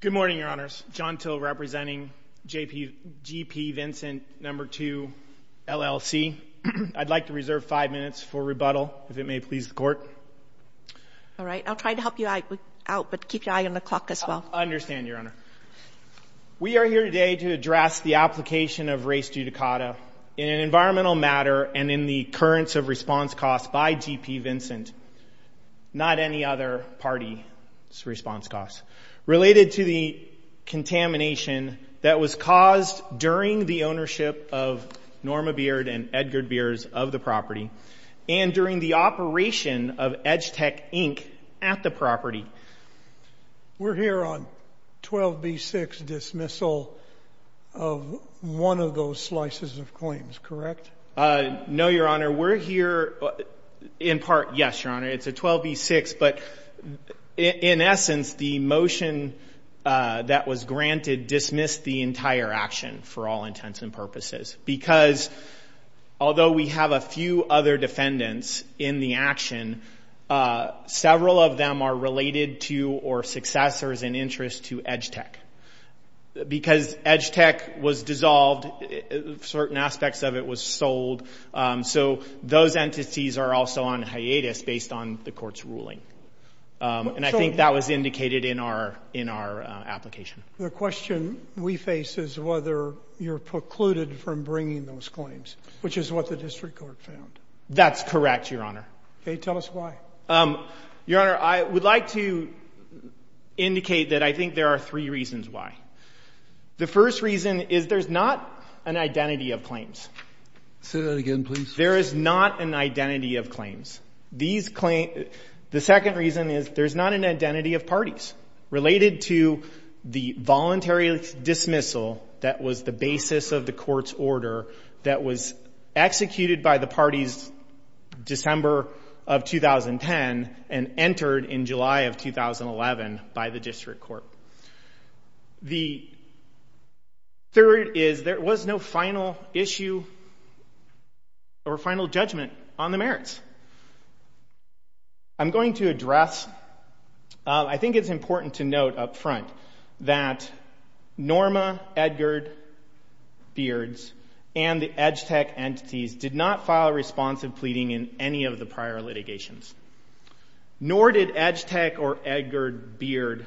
Good morning, Your Honors. John Till representing G.P. Vincent II, LLC. I'd like to reserve five minutes for rebuttal, if it may please the Court. All right. I'll try to help you out, but keep your eye on the clock as well. I understand, Your Honor. We are here today to address the application of race judicata in an environmental matter and in the occurrence of response costs by G.P. Vincent, not any other party's response costs, related to the contamination that was caused during the ownership of Norma Beard and Edgar Beard of the property and during the operation of Edgetec Inc. at the property. We're here on 12b6 dismissal of one of those slices of claims, correct? No, Your Honor. We're here in part, yes, Your Honor. It's a 12b6, but in essence, the motion that was granted dismissed the entire action for all intents and purposes, because although we have a few other defendants in the action, several of them are related to or successors in interest to Edgetec. Because Edgetec was dissolved, certain aspects of it was sold, so those entities are also on hiatus based on the Court's ruling. And I think that was indicated in our application. The question we face is whether you're precluded from bringing those claims, which is what the District Court found. That's correct, Your Honor. Okay. Tell us why. Your Honor, I would like to indicate that I think there are three reasons why. The first reason is there's not an identity of claims. Say that again, please. There is not an identity of claims. The second reason is there's not an identity of parties related to the voluntary dismissal that was the basis of the Court's order that was executed by the parties December of 2010 and entered in July of 2011 by the District Court. The third is there was no final issue or final judgment on the merits. I'm going to address – I think it's important to note up front that Norma Edgard Beards and the Edgetec entities did not file responsive pleading in any of the prior litigations, nor did Edgetec or Edgard Beard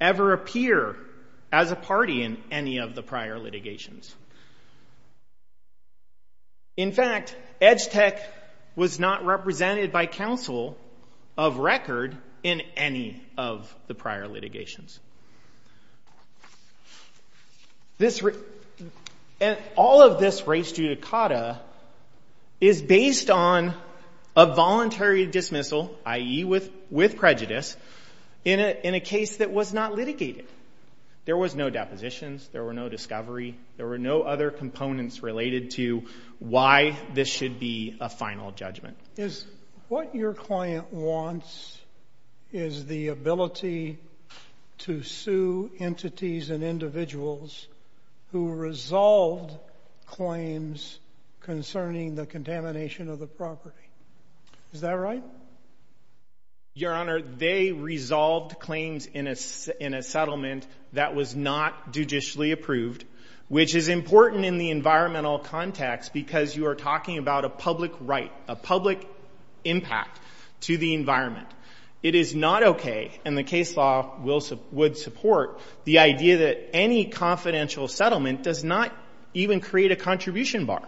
ever appear as a party in any of the prior litigations. In fact, Edgetec was not represented by counsel of record in any of the prior litigations. All of this res judicata is based on a voluntary dismissal, i.e. with prejudice, in a case that was not litigated. There was no depositions. There were no discovery. There were no other components related to why this should be a final judgment. What your client wants is the ability to sue entities and individuals who resolved claims concerning the contamination of the property. Is that right? Your Honor, they resolved claims in a settlement that was not judicially approved, which is a public impact to the environment. It is not okay, and the case law would support, the idea that any confidential settlement does not even create a contribution bar.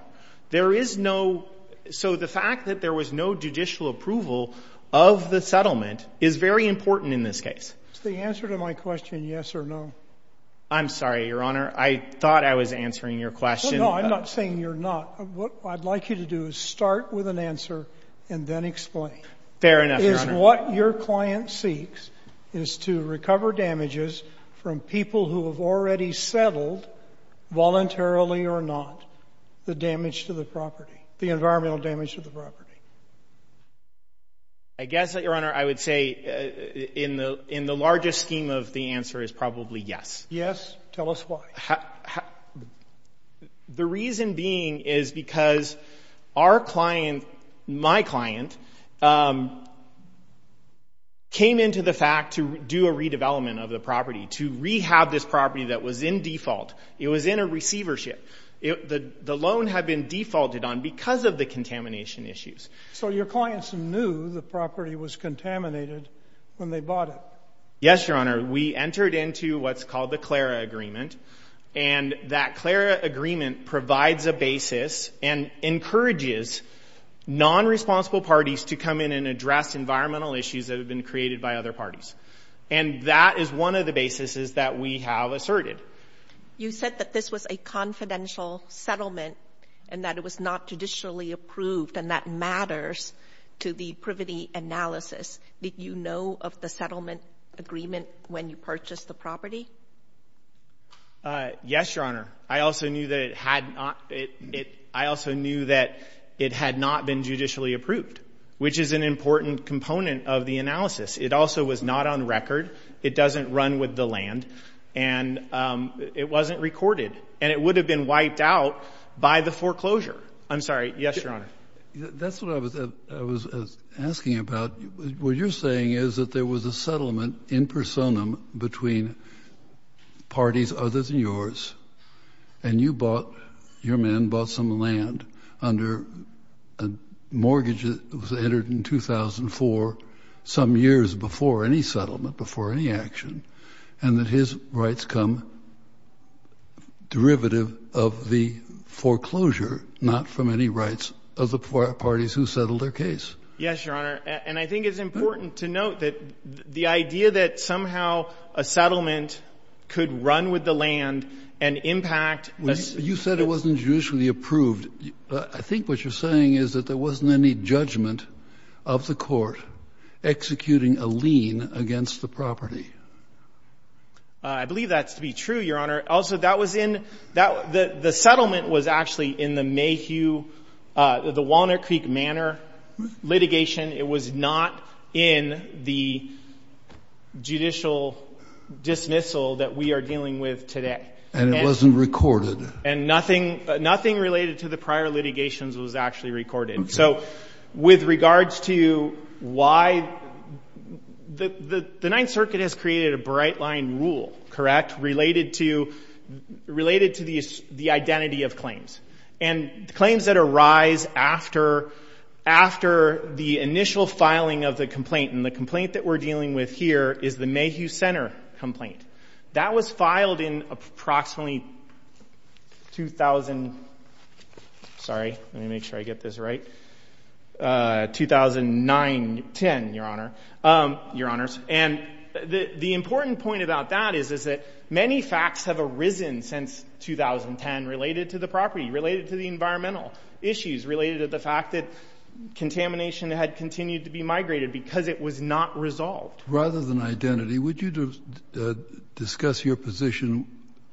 There is no – so the fact that there was no judicial approval of the settlement is very important in this case. Is the answer to my question yes or no? I'm sorry, Your Honor. I thought I was answering your question. No, I'm not saying you're not. What I'd like you to do is start with an answer and then explain. Fair enough, Your Honor. Is what your client seeks is to recover damages from people who have already settled, voluntarily or not, the damage to the property, the environmental damage to the property. I guess, Your Honor, I would say in the largest scheme of the answer is probably yes. Yes? Tell us why. The reason being is because our client, my client, came into the fact to do a redevelopment of the property, to rehab this property that was in default. It was in a receivership. The loan had been defaulted on because of the contamination issues. So your clients knew the property was contaminated when they bought it? Yes, Your Honor. We entered into what's called the Clara Agreement. And that Clara Agreement provides a basis and encourages non-responsible parties to come in and address environmental issues that have been created by other parties. And that is one of the basis that we have asserted. You said that this was a confidential settlement and that it was not judicially approved and that matters to the privity analysis. Did you know of the settlement agreement when you purchased the property? Yes, Your Honor. I also knew that it had not been judicially approved, which is an important component of the analysis. It also was not on record. It doesn't run with the land and it wasn't recorded. And it would have been wiped out by the foreclosure. I'm sorry. Yes, Your Honor. That's what I was asking about. What you're saying is that there was a settlement in personam between parties other than yours and your men bought some land under a mortgage that was entered in 2004 some years before any settlement, before any action, and that his rights come derivative of the foreclosure, not from any rights of the parties who settled their case. Yes, Your Honor. And I think it's important to note that the idea that somehow a settlement could run with the land and impact... You said it wasn't judicially approved. I think what you're saying is that there wasn't any judgment of the court executing a lien against the property. I believe that's to be true, Your Honor. Also, that was in... The settlement was actually in the Mayhew, the Walnut Creek Manor litigation. It was not in the judicial dismissal that we are dealing with today. And it wasn't recorded. And nothing related to the prior litigations was actually recorded. So with regards to why... The Ninth Circuit has created a bright line rule, correct, related to the identity of claims. And claims that arise after the initial filing of the complaint. And the complaint that we're dealing with here is the Mayhew Center complaint. That was filed in approximately 2000... Sorry, let me make sure I get this right. 2009-10, Your Honor. Your Honors. And the important point about that is that many facts have arisen since 2010 related to the property, related to the environmental issues, related to the fact that contamination had continued to be migrated because it was not resolved. Rather than identity, would you discuss your position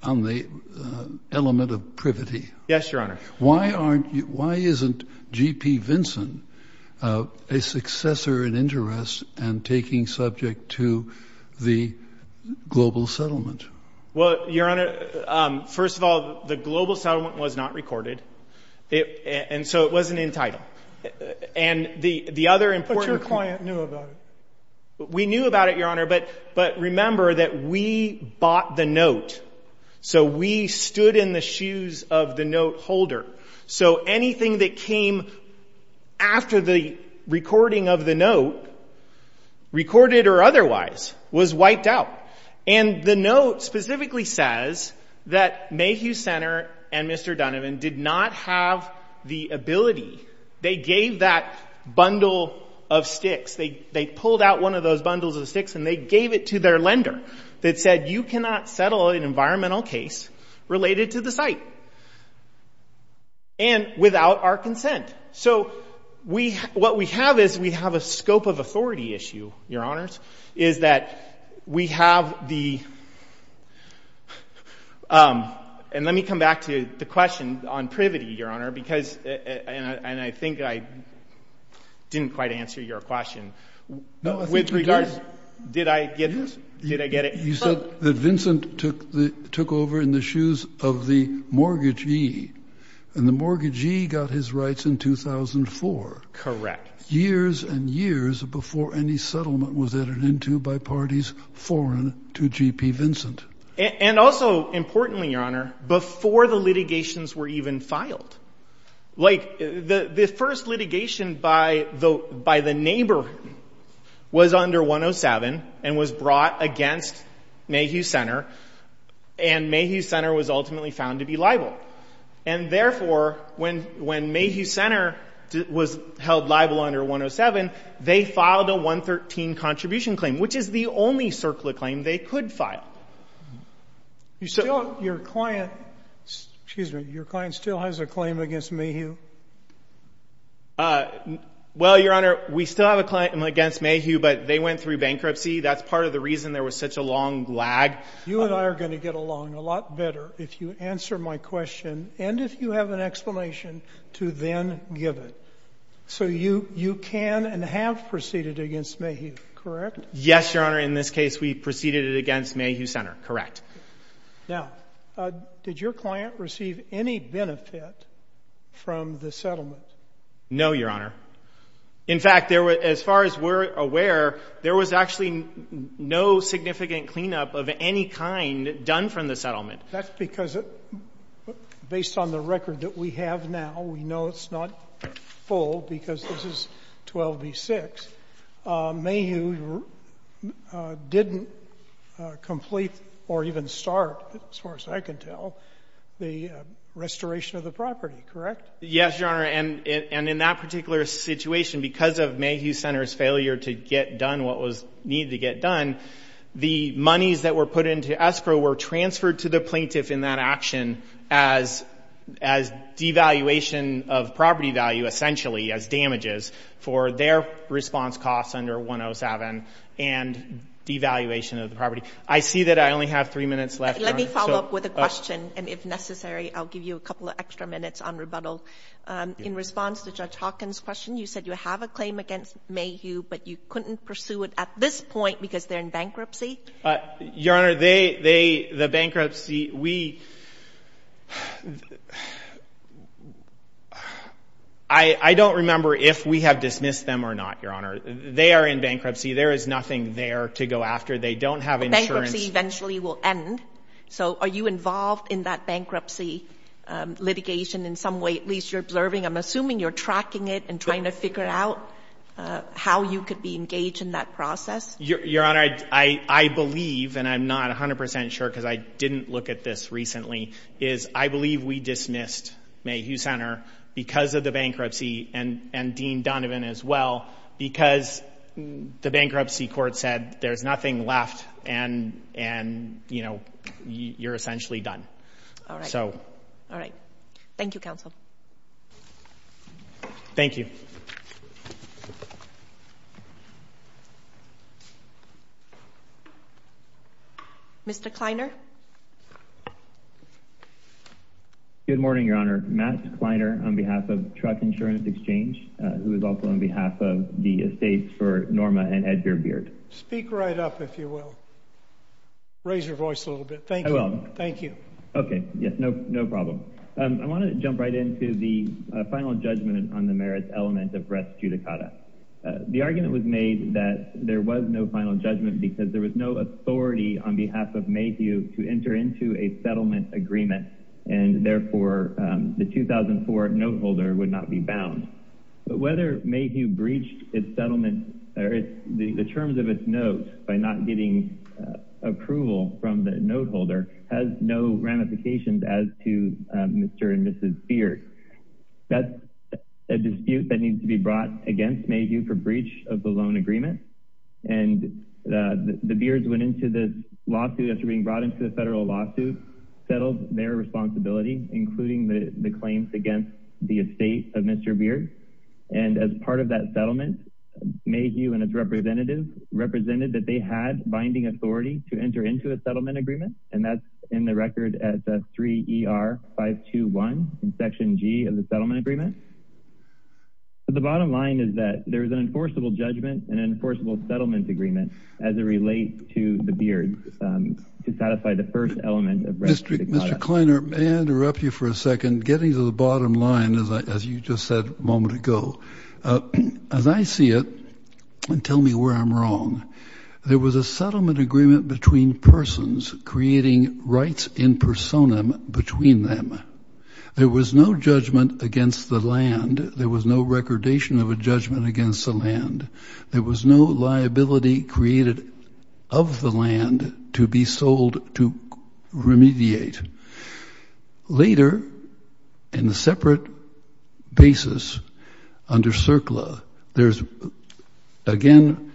on the element of privity? Yes, Your Honor. Why isn't G.P. Vinson a successor in interest and taking subject to the global settlement? Well, Your Honor, first of all, the global settlement was not recorded. And so it wasn't entitled. And the other important... But your client knew about it. We knew about it, Your Honor. But remember that we bought the note. So we stood in the shoes of the note holder. So anything that came after the recording of the note, recorded or otherwise, was wiped out. And the note specifically says that Mayhew Center and Mr. Dunnivan did not have the ability... They gave that bundle of sticks. They pulled out one of those bundles of sticks and they gave it to their lender that said you cannot settle an environmental case related to the site and without our consent. So what we have is we have a scope of authority issue, Your Honors, is that we have the... And let me come back to the question on privity, Your Honor, because and I think I didn't quite answer your question. With regards... Did I get it? You said that Vincent took over in the shoes of the mortgagee. And the mortgagee got his rights in 2004. Correct. Years and years before any settlement was entered into by parties foreign to GP Vincent. And also importantly, Your Honor, before the litigations were even filed. Like the first litigation by the neighbor was under 107 and was brought against Mayhew Center. And Mayhew Center was ultimately found to be liable. And therefore, when Mayhew Center was held liable under 107, they filed a 113 contribution claim, which is the only circular claim they could file. Your client still has a claim against Mayhew? Well, Your Honor, we still have a claim against Mayhew, but they went through bankruptcy. That's part of the reason there was such a long lag. You and I are going to get along a lot better if you answer my question and if you have an explanation to then give it. So you can and have proceeded against Mayhew, correct? Yes, Your Honor. In this case, we proceeded it against Mayhew Center. Correct. Now, did your client receive any benefit from the settlement? No, Your Honor. In fact, as far as we're aware, there was actually no significant cleanup of any kind done from the settlement. That's because based on the record that we have now, we know it's not full because this is 12 v. 6. Mayhew didn't complete or even start, as far as I can tell, the restoration of the property, correct? Yes, Your Honor, and in that particular situation, because of Mayhew Center's failure to get done what was needed to get done, the monies that were put into escrow were transferred to the plaintiff in that action as devaluation of property value, essentially, as damages for their response costs under 107 and devaluation of the property. I see that I only have three minutes left. Let me follow up with a question and if necessary, I'll give you a couple of extra minutes on rebuttal. In response to Judge Hawkins' question, you said you have a claim against Mayhew, but you couldn't pursue it at this point because they're in bankruptcy? Your Honor, they, the bankruptcy, we... I don't remember if we have dismissed them or not, Your Honor. They are in bankruptcy. There is nothing there to go after. They don't have insurance. Bankruptcy eventually will end. So are you involved in that bankruptcy litigation in some way? At least you're observing. I'm assuming you're tracking it and trying to figure out how you could be engaged in that process. Your Honor, I believe, and I'm not 100% sure because I didn't look at this recently, is I believe we dismissed Mayhew Center because of the bankruptcy and Dean Donovan as well, because the bankruptcy court said there's nothing left and, you know, you're essentially done. All right. All right. Thank you, counsel. Thank you. Mr. Kleiner. Good morning, Your Honor. Matt Kleiner on behalf of Truck Insurance Exchange, who is also on behalf of the estates for Norma and Edger Beard. Speak right up, if you will. Raise your voice a little bit. Thank you. I will. Thank you. Okay. Yes. No problem. I want to jump right into the final judgment on the merits element of Brett's judicata. The argument was made that there was no final judgment because there was no authority on behalf of Mayhew to enter into a settlement agreement, and therefore the 2004 note holder would not be bound. But whether Mayhew breached its settlement or the terms of its note by not getting approval from the note holder has no ramifications as to Mr. and Mrs. Beard. That's a dispute that needs to be brought against Mayhew for breach of the loan agreement. And the Beards went into this lawsuit, after being brought into the federal lawsuit, settled their responsibility, including the claims against the estate of Mr. Beard. And as part of that settlement, Mayhew and its representatives represented that they had binding authority to enter into a settlement agreement, and that's in the record as F3-ER-521, in section G of the settlement agreement. But the bottom line is that there is an enforceable judgment and an enforceable settlement agreement as it relates to the Beards to satisfy the first element of Brett's judicata. Mr. Kleiner, may I interrupt you for a second? Getting to the bottom line, as you just said a moment ago, as I see it, and tell me where I'm wrong, there was a settlement agreement between persons creating rights in personam between them. There was no judgment against the land. There was no recordation of a judgment against the land. There was no liability created of the land to be sold to remediate. Later, in a separate basis under CERCLA, there's, again,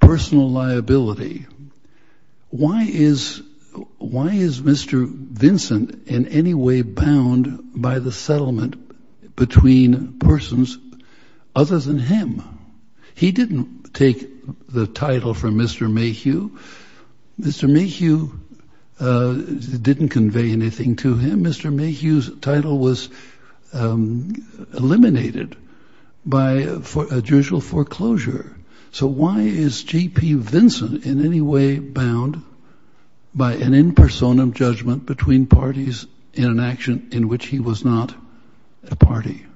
personal liability. Why is Mr. Vincent in any way bound by the settlement between persons other than him? He didn't take the title from Mr. Mayhew. Mr. Mayhew didn't convey anything to him. Mr. Mayhew's title was eliminated by judicial foreclosure. So why is J.P. Vincent in any way bound by an in personam judgment between parties in an action in which he was not a party?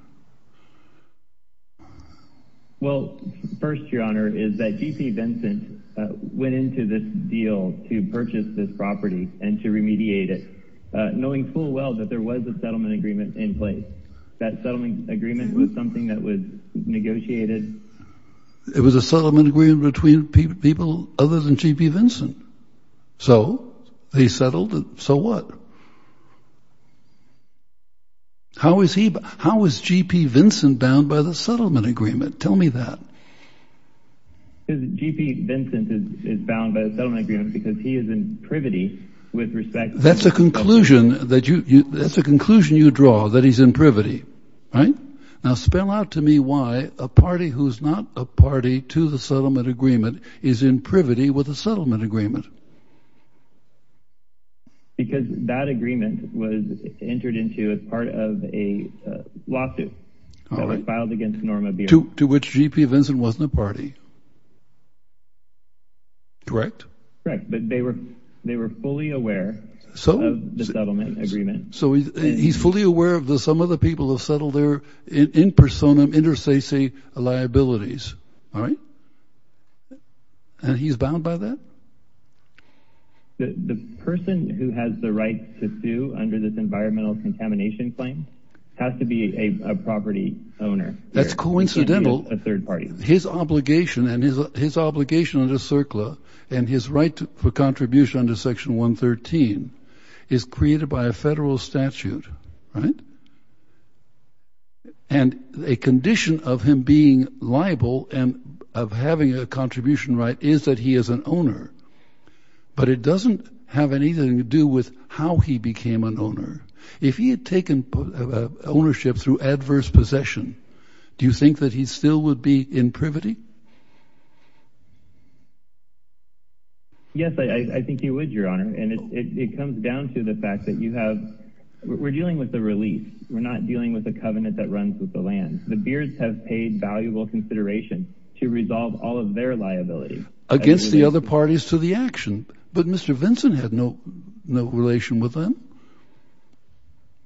Well, first, Your Honor, is that J.P. Vincent went into this deal to purchase this property and to remediate it, knowing full well that there was a settlement agreement in place. That settlement agreement was something that was negotiated. It was a settlement agreement between people other than J.P. Vincent. So they settled it. So what? How is J.P. Vincent bound by the settlement agreement? Tell me that. J.P. Vincent is bound by the settlement agreement because he is in privity with respect to the settlement agreement. That's a conclusion that you draw, that he's in privity, right? Now spell out to me why a party who's not a party to the settlement agreement is in privity with the settlement agreement. Because that agreement was entered into as part of a lawsuit that was filed against Norma Beer. To which J.P. Vincent wasn't a party. Correct? Correct, but they were fully aware of the settlement agreement. So he's fully aware of some of the people who settled there in personam inter sese liabilities, all right? And he's bound by that? The person who has the right to sue under this environmental contamination claim has to be a property owner. That's coincidental. He can't be a third party. His obligation under CERCLA and his right for contribution under Section 113 is created by a federal statute, right? And a condition of him being liable and of having a contribution right is that he is an owner. But it doesn't have anything to do with how he became an owner. If he had taken ownership through adverse possession, do you think that he still would be in privity? Yes, I think he would, Your Honor. And it comes down to the fact that we're dealing with a release. We're not dealing with a covenant that runs with the land. The Beards have paid valuable consideration to resolve all of their liabilities. Against the other parties to the action. But Mr. Vincent had no relation with them?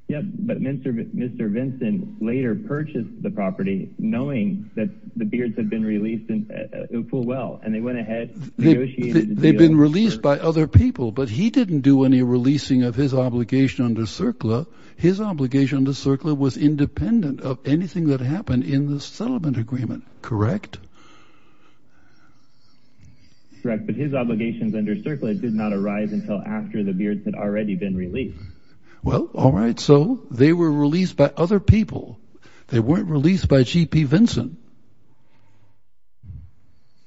Yeah, but Mr. Vincent later purchased the property knowing that the Beards had been released in full well. And they went ahead and negotiated the deal. They'd been released by other people, but he didn't do any releasing of his obligation under CERCLA. His obligation under CERCLA was independent of anything that happened in the settlement agreement, correct? Correct. But his obligations under CERCLA did not arise until after the Beards had already been released. Well, all right, so they were released by other people. They weren't released by G.P. Vincent.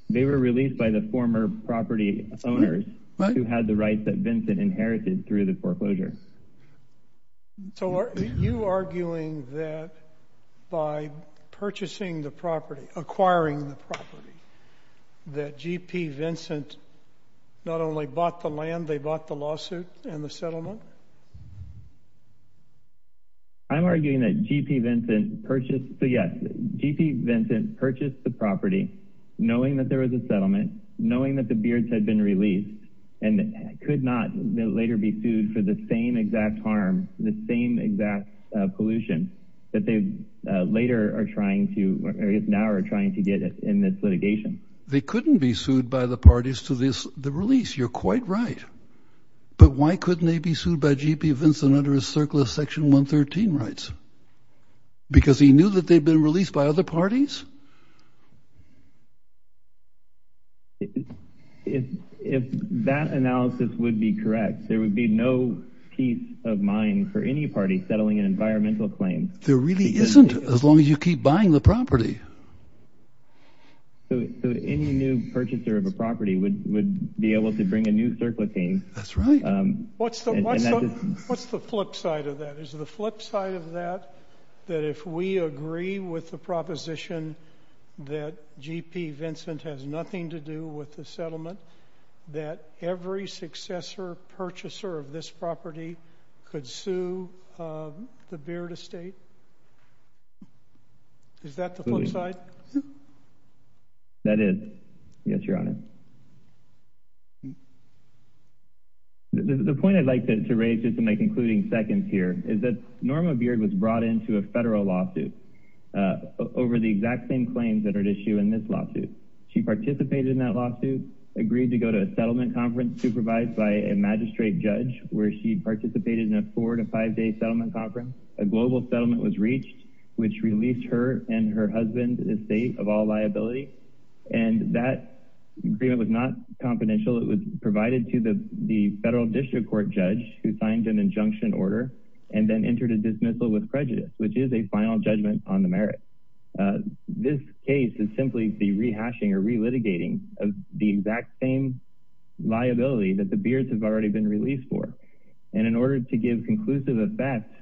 They were released by the former property owners who had the rights that Vincent inherited through the foreclosure. So are you arguing that by purchasing the property, acquiring the property, that G.P. Vincent not only bought the land, they bought the lawsuit and the settlement? I'm arguing that G.P. Vincent purchased the property knowing that there was a settlement, knowing that the Beards had been released, and could not later be sued for the same exact harm, the same exact pollution that they later are trying to, or I guess now are trying to get in this litigation. They couldn't be sued by the parties to the release. You're quite right. But why couldn't they be sued by G.P. Vincent under his CERCLA Section 113 rights? Because he knew that they'd been released by other parties? If that analysis would be correct, there would be no peace of mind for any party settling an environmental claim. There really isn't, as long as you keep buying the property. So any new purchaser of a property would be able to bring a new CERCLA claim? That's right. What's the flip side of that? Is the flip side of that that if we agree with the proposition that G.P. Vincent has nothing to do with the settlement, that every successor purchaser of this property could sue the Beard estate? Is that the flip side? That is, yes, Your Honor. The point I'd like to raise, just in my concluding seconds here, is that Norma Beard was brought into a federal lawsuit over the exact same claims that are at issue in this lawsuit. She participated in that lawsuit, agreed to go to a settlement conference supervised by a magistrate judge where she participated in a four- to five-day settlement conference. A global settlement was reached, which released her and her husband's estate of all liability. And that agreement was not confidential. It was provided to the federal district court judge, who signed an injunction order, and then entered a dismissal with prejudice, which is a final judgment on the merits. This case is simply the rehashing or relitigating of the exact same liability that the Beards have already been released for. And in order to give conclusive effect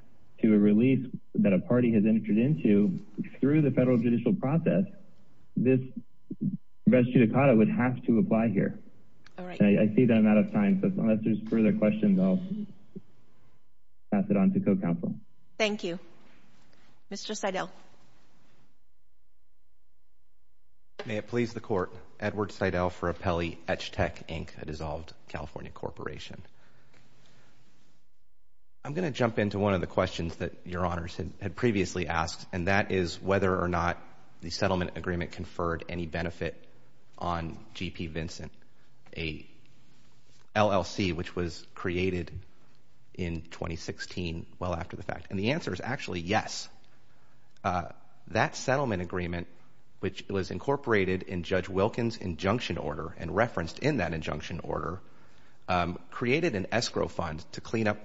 to a release that a party has entered into through the federal judicial process, this res judicata would have to apply here. I see that I'm out of time, so unless there's further questions, I'll pass it on to co-counsel. Thank you. Mr. Seidel. May it please the court, Edward Seidel for Apelli Etch Tech, Inc., a dissolved California corporation. I'm going to jump into one of the questions that Your Honors had previously asked, and that is whether or not the settlement agreement conferred any benefit on G.P. Vincent, a LLC which was created in 2016 well after the fact. And the answer is actually yes. That settlement agreement, which was incorporated in Judge Wilkins' injunction order and referenced in that injunction order, created an escrow fund to clean up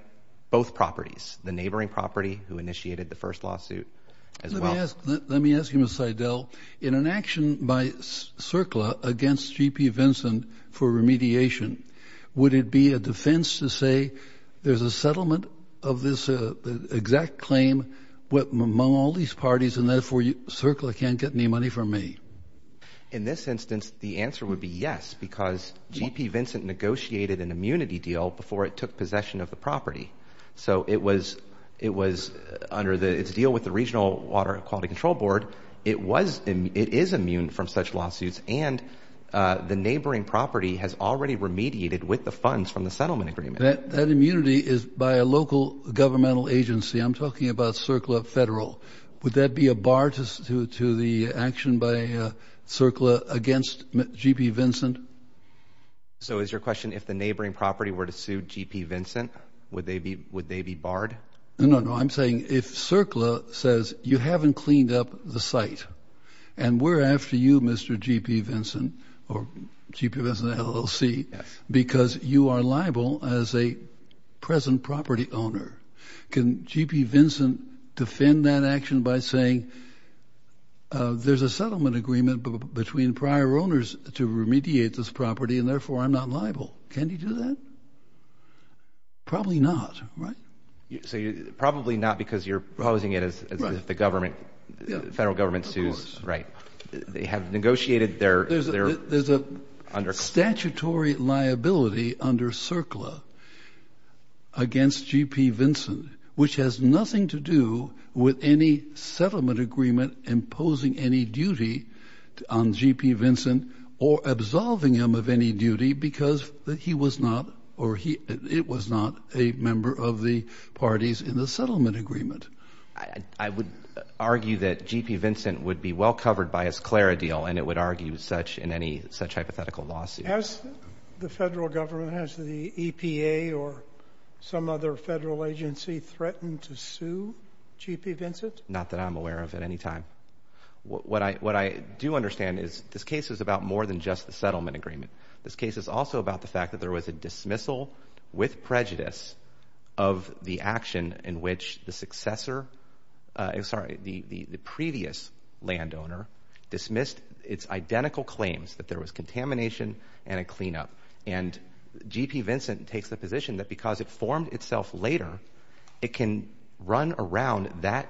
both properties, the neighboring property who initiated the first lawsuit as well. Let me ask you, Mr. Seidel, in an action by CERCLA against G.P. Vincent for remediation, would it be a defense to say there's a settlement of this exact claim among all these parties and therefore CERCLA can't get any money from me? In this instance, the answer would be yes because G.P. Vincent negotiated an immunity deal before it took possession of the property. So it was under its deal with the Regional Water and Quality Control Board. It is immune from such lawsuits, and the neighboring property has already remediated with the funds from the settlement agreement. That immunity is by a local governmental agency. I'm talking about CERCLA Federal. Would that be a bar to the action by CERCLA against G.P. Vincent? So is your question if the neighboring property were to sue G.P. Vincent, would they be barred? No, no, I'm saying if CERCLA says you haven't cleaned up the site and we're after you, Mr. G.P. Vincent, or G.P. Vincent LLC, because you are liable as a present property owner, can G.P. Vincent defend that action by saying there's a settlement agreement between prior owners to remediate this property and therefore I'm not liable? Can he do that? Probably not, right? So probably not because you're posing it as if the federal government sues. Right. They have negotiated their... There's a statutory liability under CERCLA against G.P. Vincent which has nothing to do with any settlement agreement imposing any duty on G.P. Vincent or absolving him of any duty because he was not, or it was not, a member of the parties in the settlement agreement. I would argue that G.P. Vincent would be well covered by his CLARA deal and it would argue such in any such hypothetical lawsuit. Has the federal government, has the EPA or some other federal agency threatened to sue G.P. Vincent? Not that I'm aware of at any time. What I do understand is this case is about more than just the settlement agreement. This case is also about the fact that there was a dismissal with prejudice of the action in which the successor... Sorry, the previous landowner dismissed its identical claims that there was contamination and a cleanup and G.P. Vincent takes the position that because it formed itself later it can run around that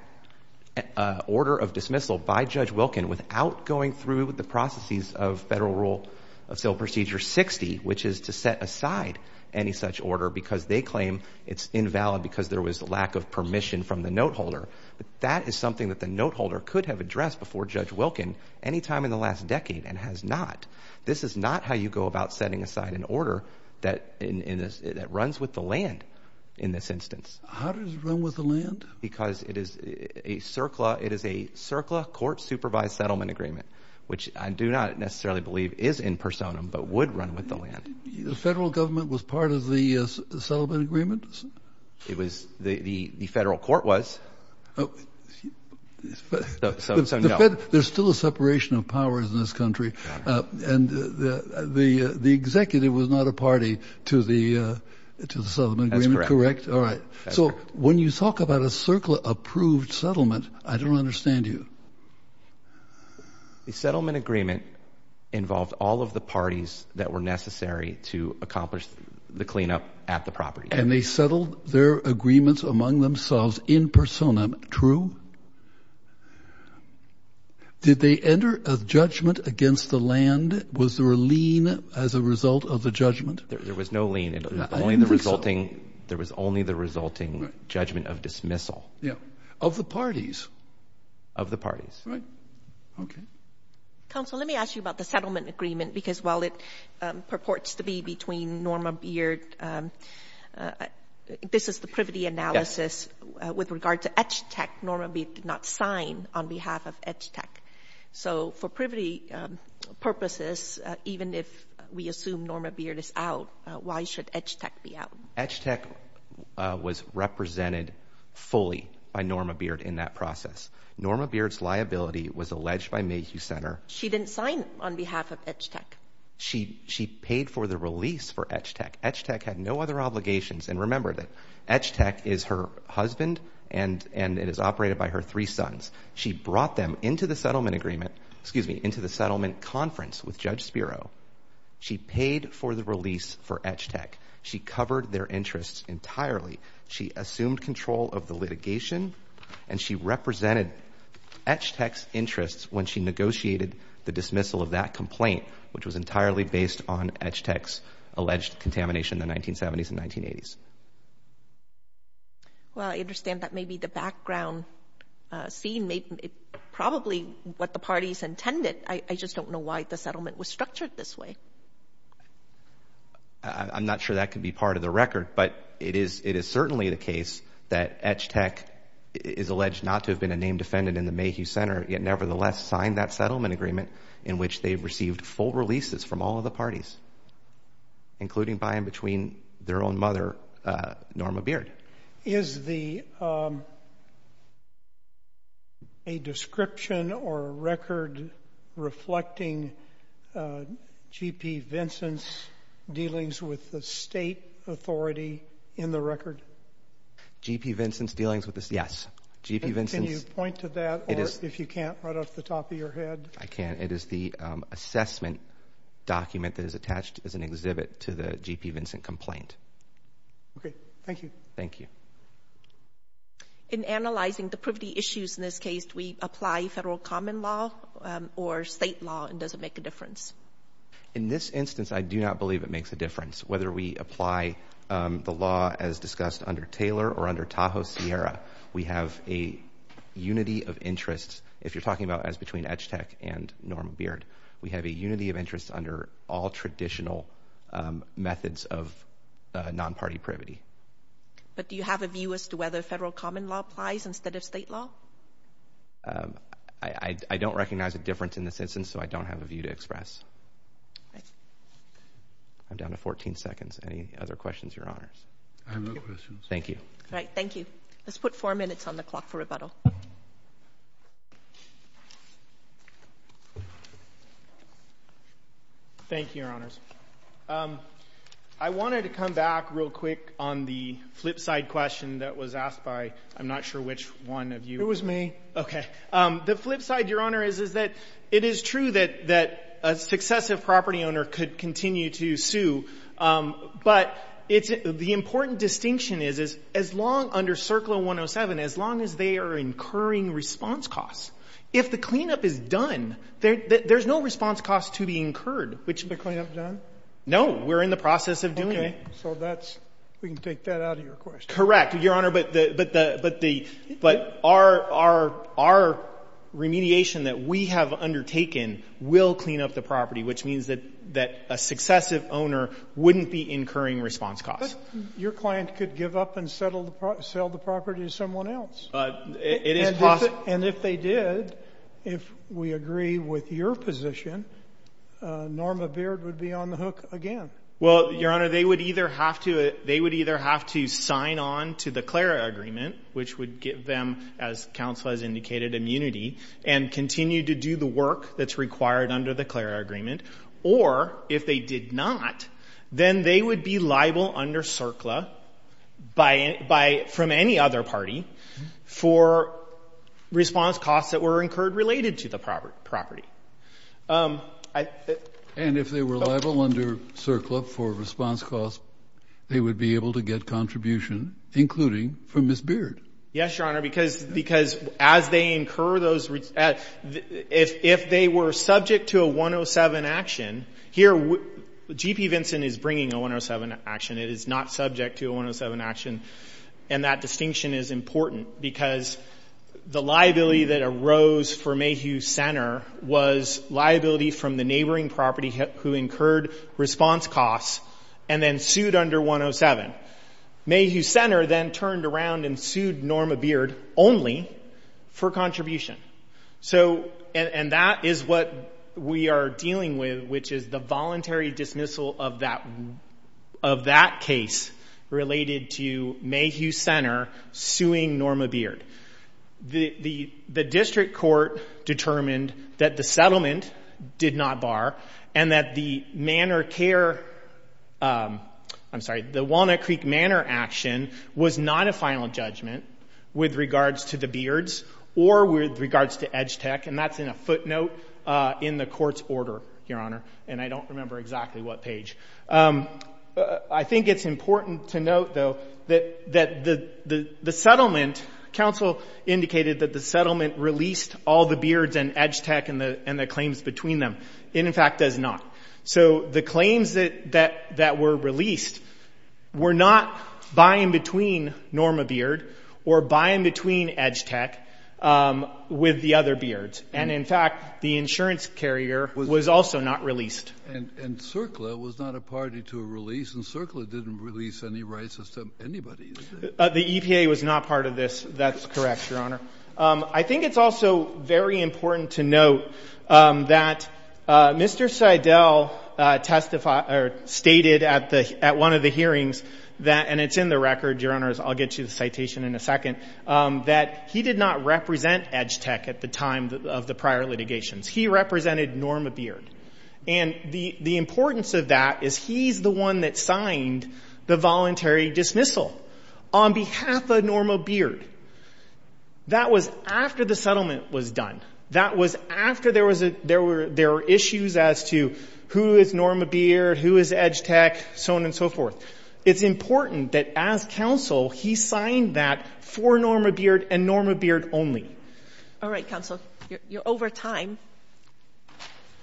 order of dismissal by Judge Wilkin without going through the processes of Federal Rule of Sale Procedure 60 which is to set aside any such order because they claim it's invalid because there was a lack of permission from the note holder. That is something that the note holder could have addressed before Judge Wilkin any time in the last decade and has not. This is not how you go about setting aside an order that runs with the land in this instance. How does it run with the land? Because it is a CERCLA court-supervised settlement agreement which I do not necessarily believe is in personam but would run with the land. The Federal Government was part of the settlement agreement? The Federal Court was, so no. There's still a separation of powers in this country and the executive was not a party to the settlement agreement, correct? That's correct. All right. So when you talk about a CERCLA-approved settlement, I don't understand you. The settlement agreement involved all of the parties that were necessary to accomplish the cleanup at the property. And they settled their agreements among themselves in personam, true? Did they enter a judgment against the land? Was there a lien as a result of the judgment? There was no lien. There was only the resulting judgment of dismissal. Of the parties? Of the parties. Right. Okay. Counsel, let me ask you about the settlement agreement because while it purports to be between Norma Beard, this is the privity analysis with regard to EGTEC. Norma Beard did not sign on behalf of EGTEC. So for privity purposes, even if we assume Norma Beard is out, why should EGTEC be out? EGTEC was represented fully by Norma Beard in that process. Norma Beard's liability was alleged by Mayhew Center. She didn't sign on behalf of EGTEC. She paid for the release for EGTEC. EGTEC had no other obligations. And remember that EGTEC is her husband and it is operated by her three sons. She brought them into the settlement conference with Judge Spiro. She paid for the release for EGTEC. She covered their interests entirely. She assumed control of the litigation, and she represented EGTEC's interests when she negotiated the dismissal of that complaint, which was entirely based on EGTEC's alleged contamination in the 1970s and 1980s. Well, I understand that may be the background scene, probably what the parties intended. I just don't know why the settlement was structured this way. I'm not sure that could be part of the record, but it is certainly the case that EGTEC is alleged not to have been a named defendant in the Mayhew Center, yet nevertheless signed that settlement agreement in which they received full releases from all of the parties, including by and between their own mother, Norma Beard. Is the description or record reflecting G.P. Vincent's dealings with the state authority in the record? G.P. Vincent's dealings with the state? Yes. Can you point to that, or if you can't, right off the top of your head? I can't. It is the assessment document that is attached as an exhibit to the G.P. Vincent complaint. Okay. Thank you. Thank you. In analyzing the privity issues in this case, do we apply federal common law or state law, and does it make a difference? In this instance, I do not believe it makes a difference. Whether we apply the law as discussed under Taylor or under Tahoe Sierra, we have a unity of interest. If you're talking about as between Edge Tech and Norma Beard, we have a unity of interest under all traditional methods of non-party privity. But do you have a view as to whether federal common law applies instead of state law? I don't recognize a difference in this instance, so I don't have a view to express. I'm down to 14 seconds. Any other questions, Your Honors? I have no questions. Thank you. All right. Thank you. Let's put four minutes on the clock for rebuttal. Thank you, Your Honors. I wanted to come back real quick on the flip side question that was asked by I'm not sure which one of you. It was me. Okay. The flip side, Your Honor, is that it is true that a successive property owner could continue to sue, but the important distinction is as long under CERCLA 107, as long as they are incurring response costs, if the cleanup is done, there's no response cost to be incurred. Is the cleanup done? No. We're in the process of doing it. Okay. So we can take that out of your question. Correct, Your Honor, but our remediation that we have undertaken will clean up the property, which means that a successive owner wouldn't be incurring response costs. Your client could give up and sell the property to someone else. It is possible. And if they did, if we agree with your position, Norma Beard would be on the hook again. Well, Your Honor, they would either have to sign on to the CLARA agreement, which would give them, as counsel has indicated, immunity, and continue to do the work that's required under the CLARA agreement, or if they did not, then they would be liable under CERCLA from any other party for response costs that were incurred related to the property. And if they were liable under CERCLA for response costs, they would be able to get contribution, including from Ms. Beard. Yes, Your Honor, because as they incur those, if they were subject to a 107 action, here, G.P. Vinson is bringing a 107 action. It is not subject to a 107 action, and that distinction is important because the liability that arose for Mayhew Center was liability from the neighboring property who incurred response costs and then sued under 107. Mayhew Center then turned around and sued Norma Beard only for contribution. And that is what we are dealing with, which is the voluntary dismissal of that case related to Mayhew Center suing Norma Beard. The district court determined that the settlement did not bar and that the Walnut Creek Manor action was not a final judgment with regards to the Beards or with regards to EDGTEC, and that is in a footnote in the court's order, Your Honor, and I don't remember exactly what page. I think it is important to note, though, that the settlement, counsel indicated that the settlement released all the Beards and EDGTEC and the claims between them. It, in fact, does not. So the claims that were released were not by and between Norma Beard or by and between EDGTEC with the other Beards. And, in fact, the insurance carrier was also not released. And CERCLA was not a party to a release, and CERCLA didn't release any rights to anybody. The EPA was not part of this. That is correct, Your Honor. I think it's also very important to note that Mr. Seidel stated at one of the hearings that, and it's in the record, Your Honor, I'll get to the citation in a second, that he did not represent EDGTEC at the time of the prior litigations. He represented Norma Beard, and the importance of that is he's the one that signed the voluntary dismissal on behalf of Norma Beard. That was after the settlement was done. That was after there were issues as to who is Norma Beard, who is EDGTEC, so on and so forth. It's important that, as counsel, he signed that for Norma Beard and Norma Beard only. All right, counsel. You're over time.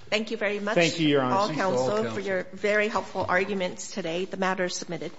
Thank you very much. Thank you, Your Honor. Thank you, counsel, for your very helpful arguments today. The matter is submitted.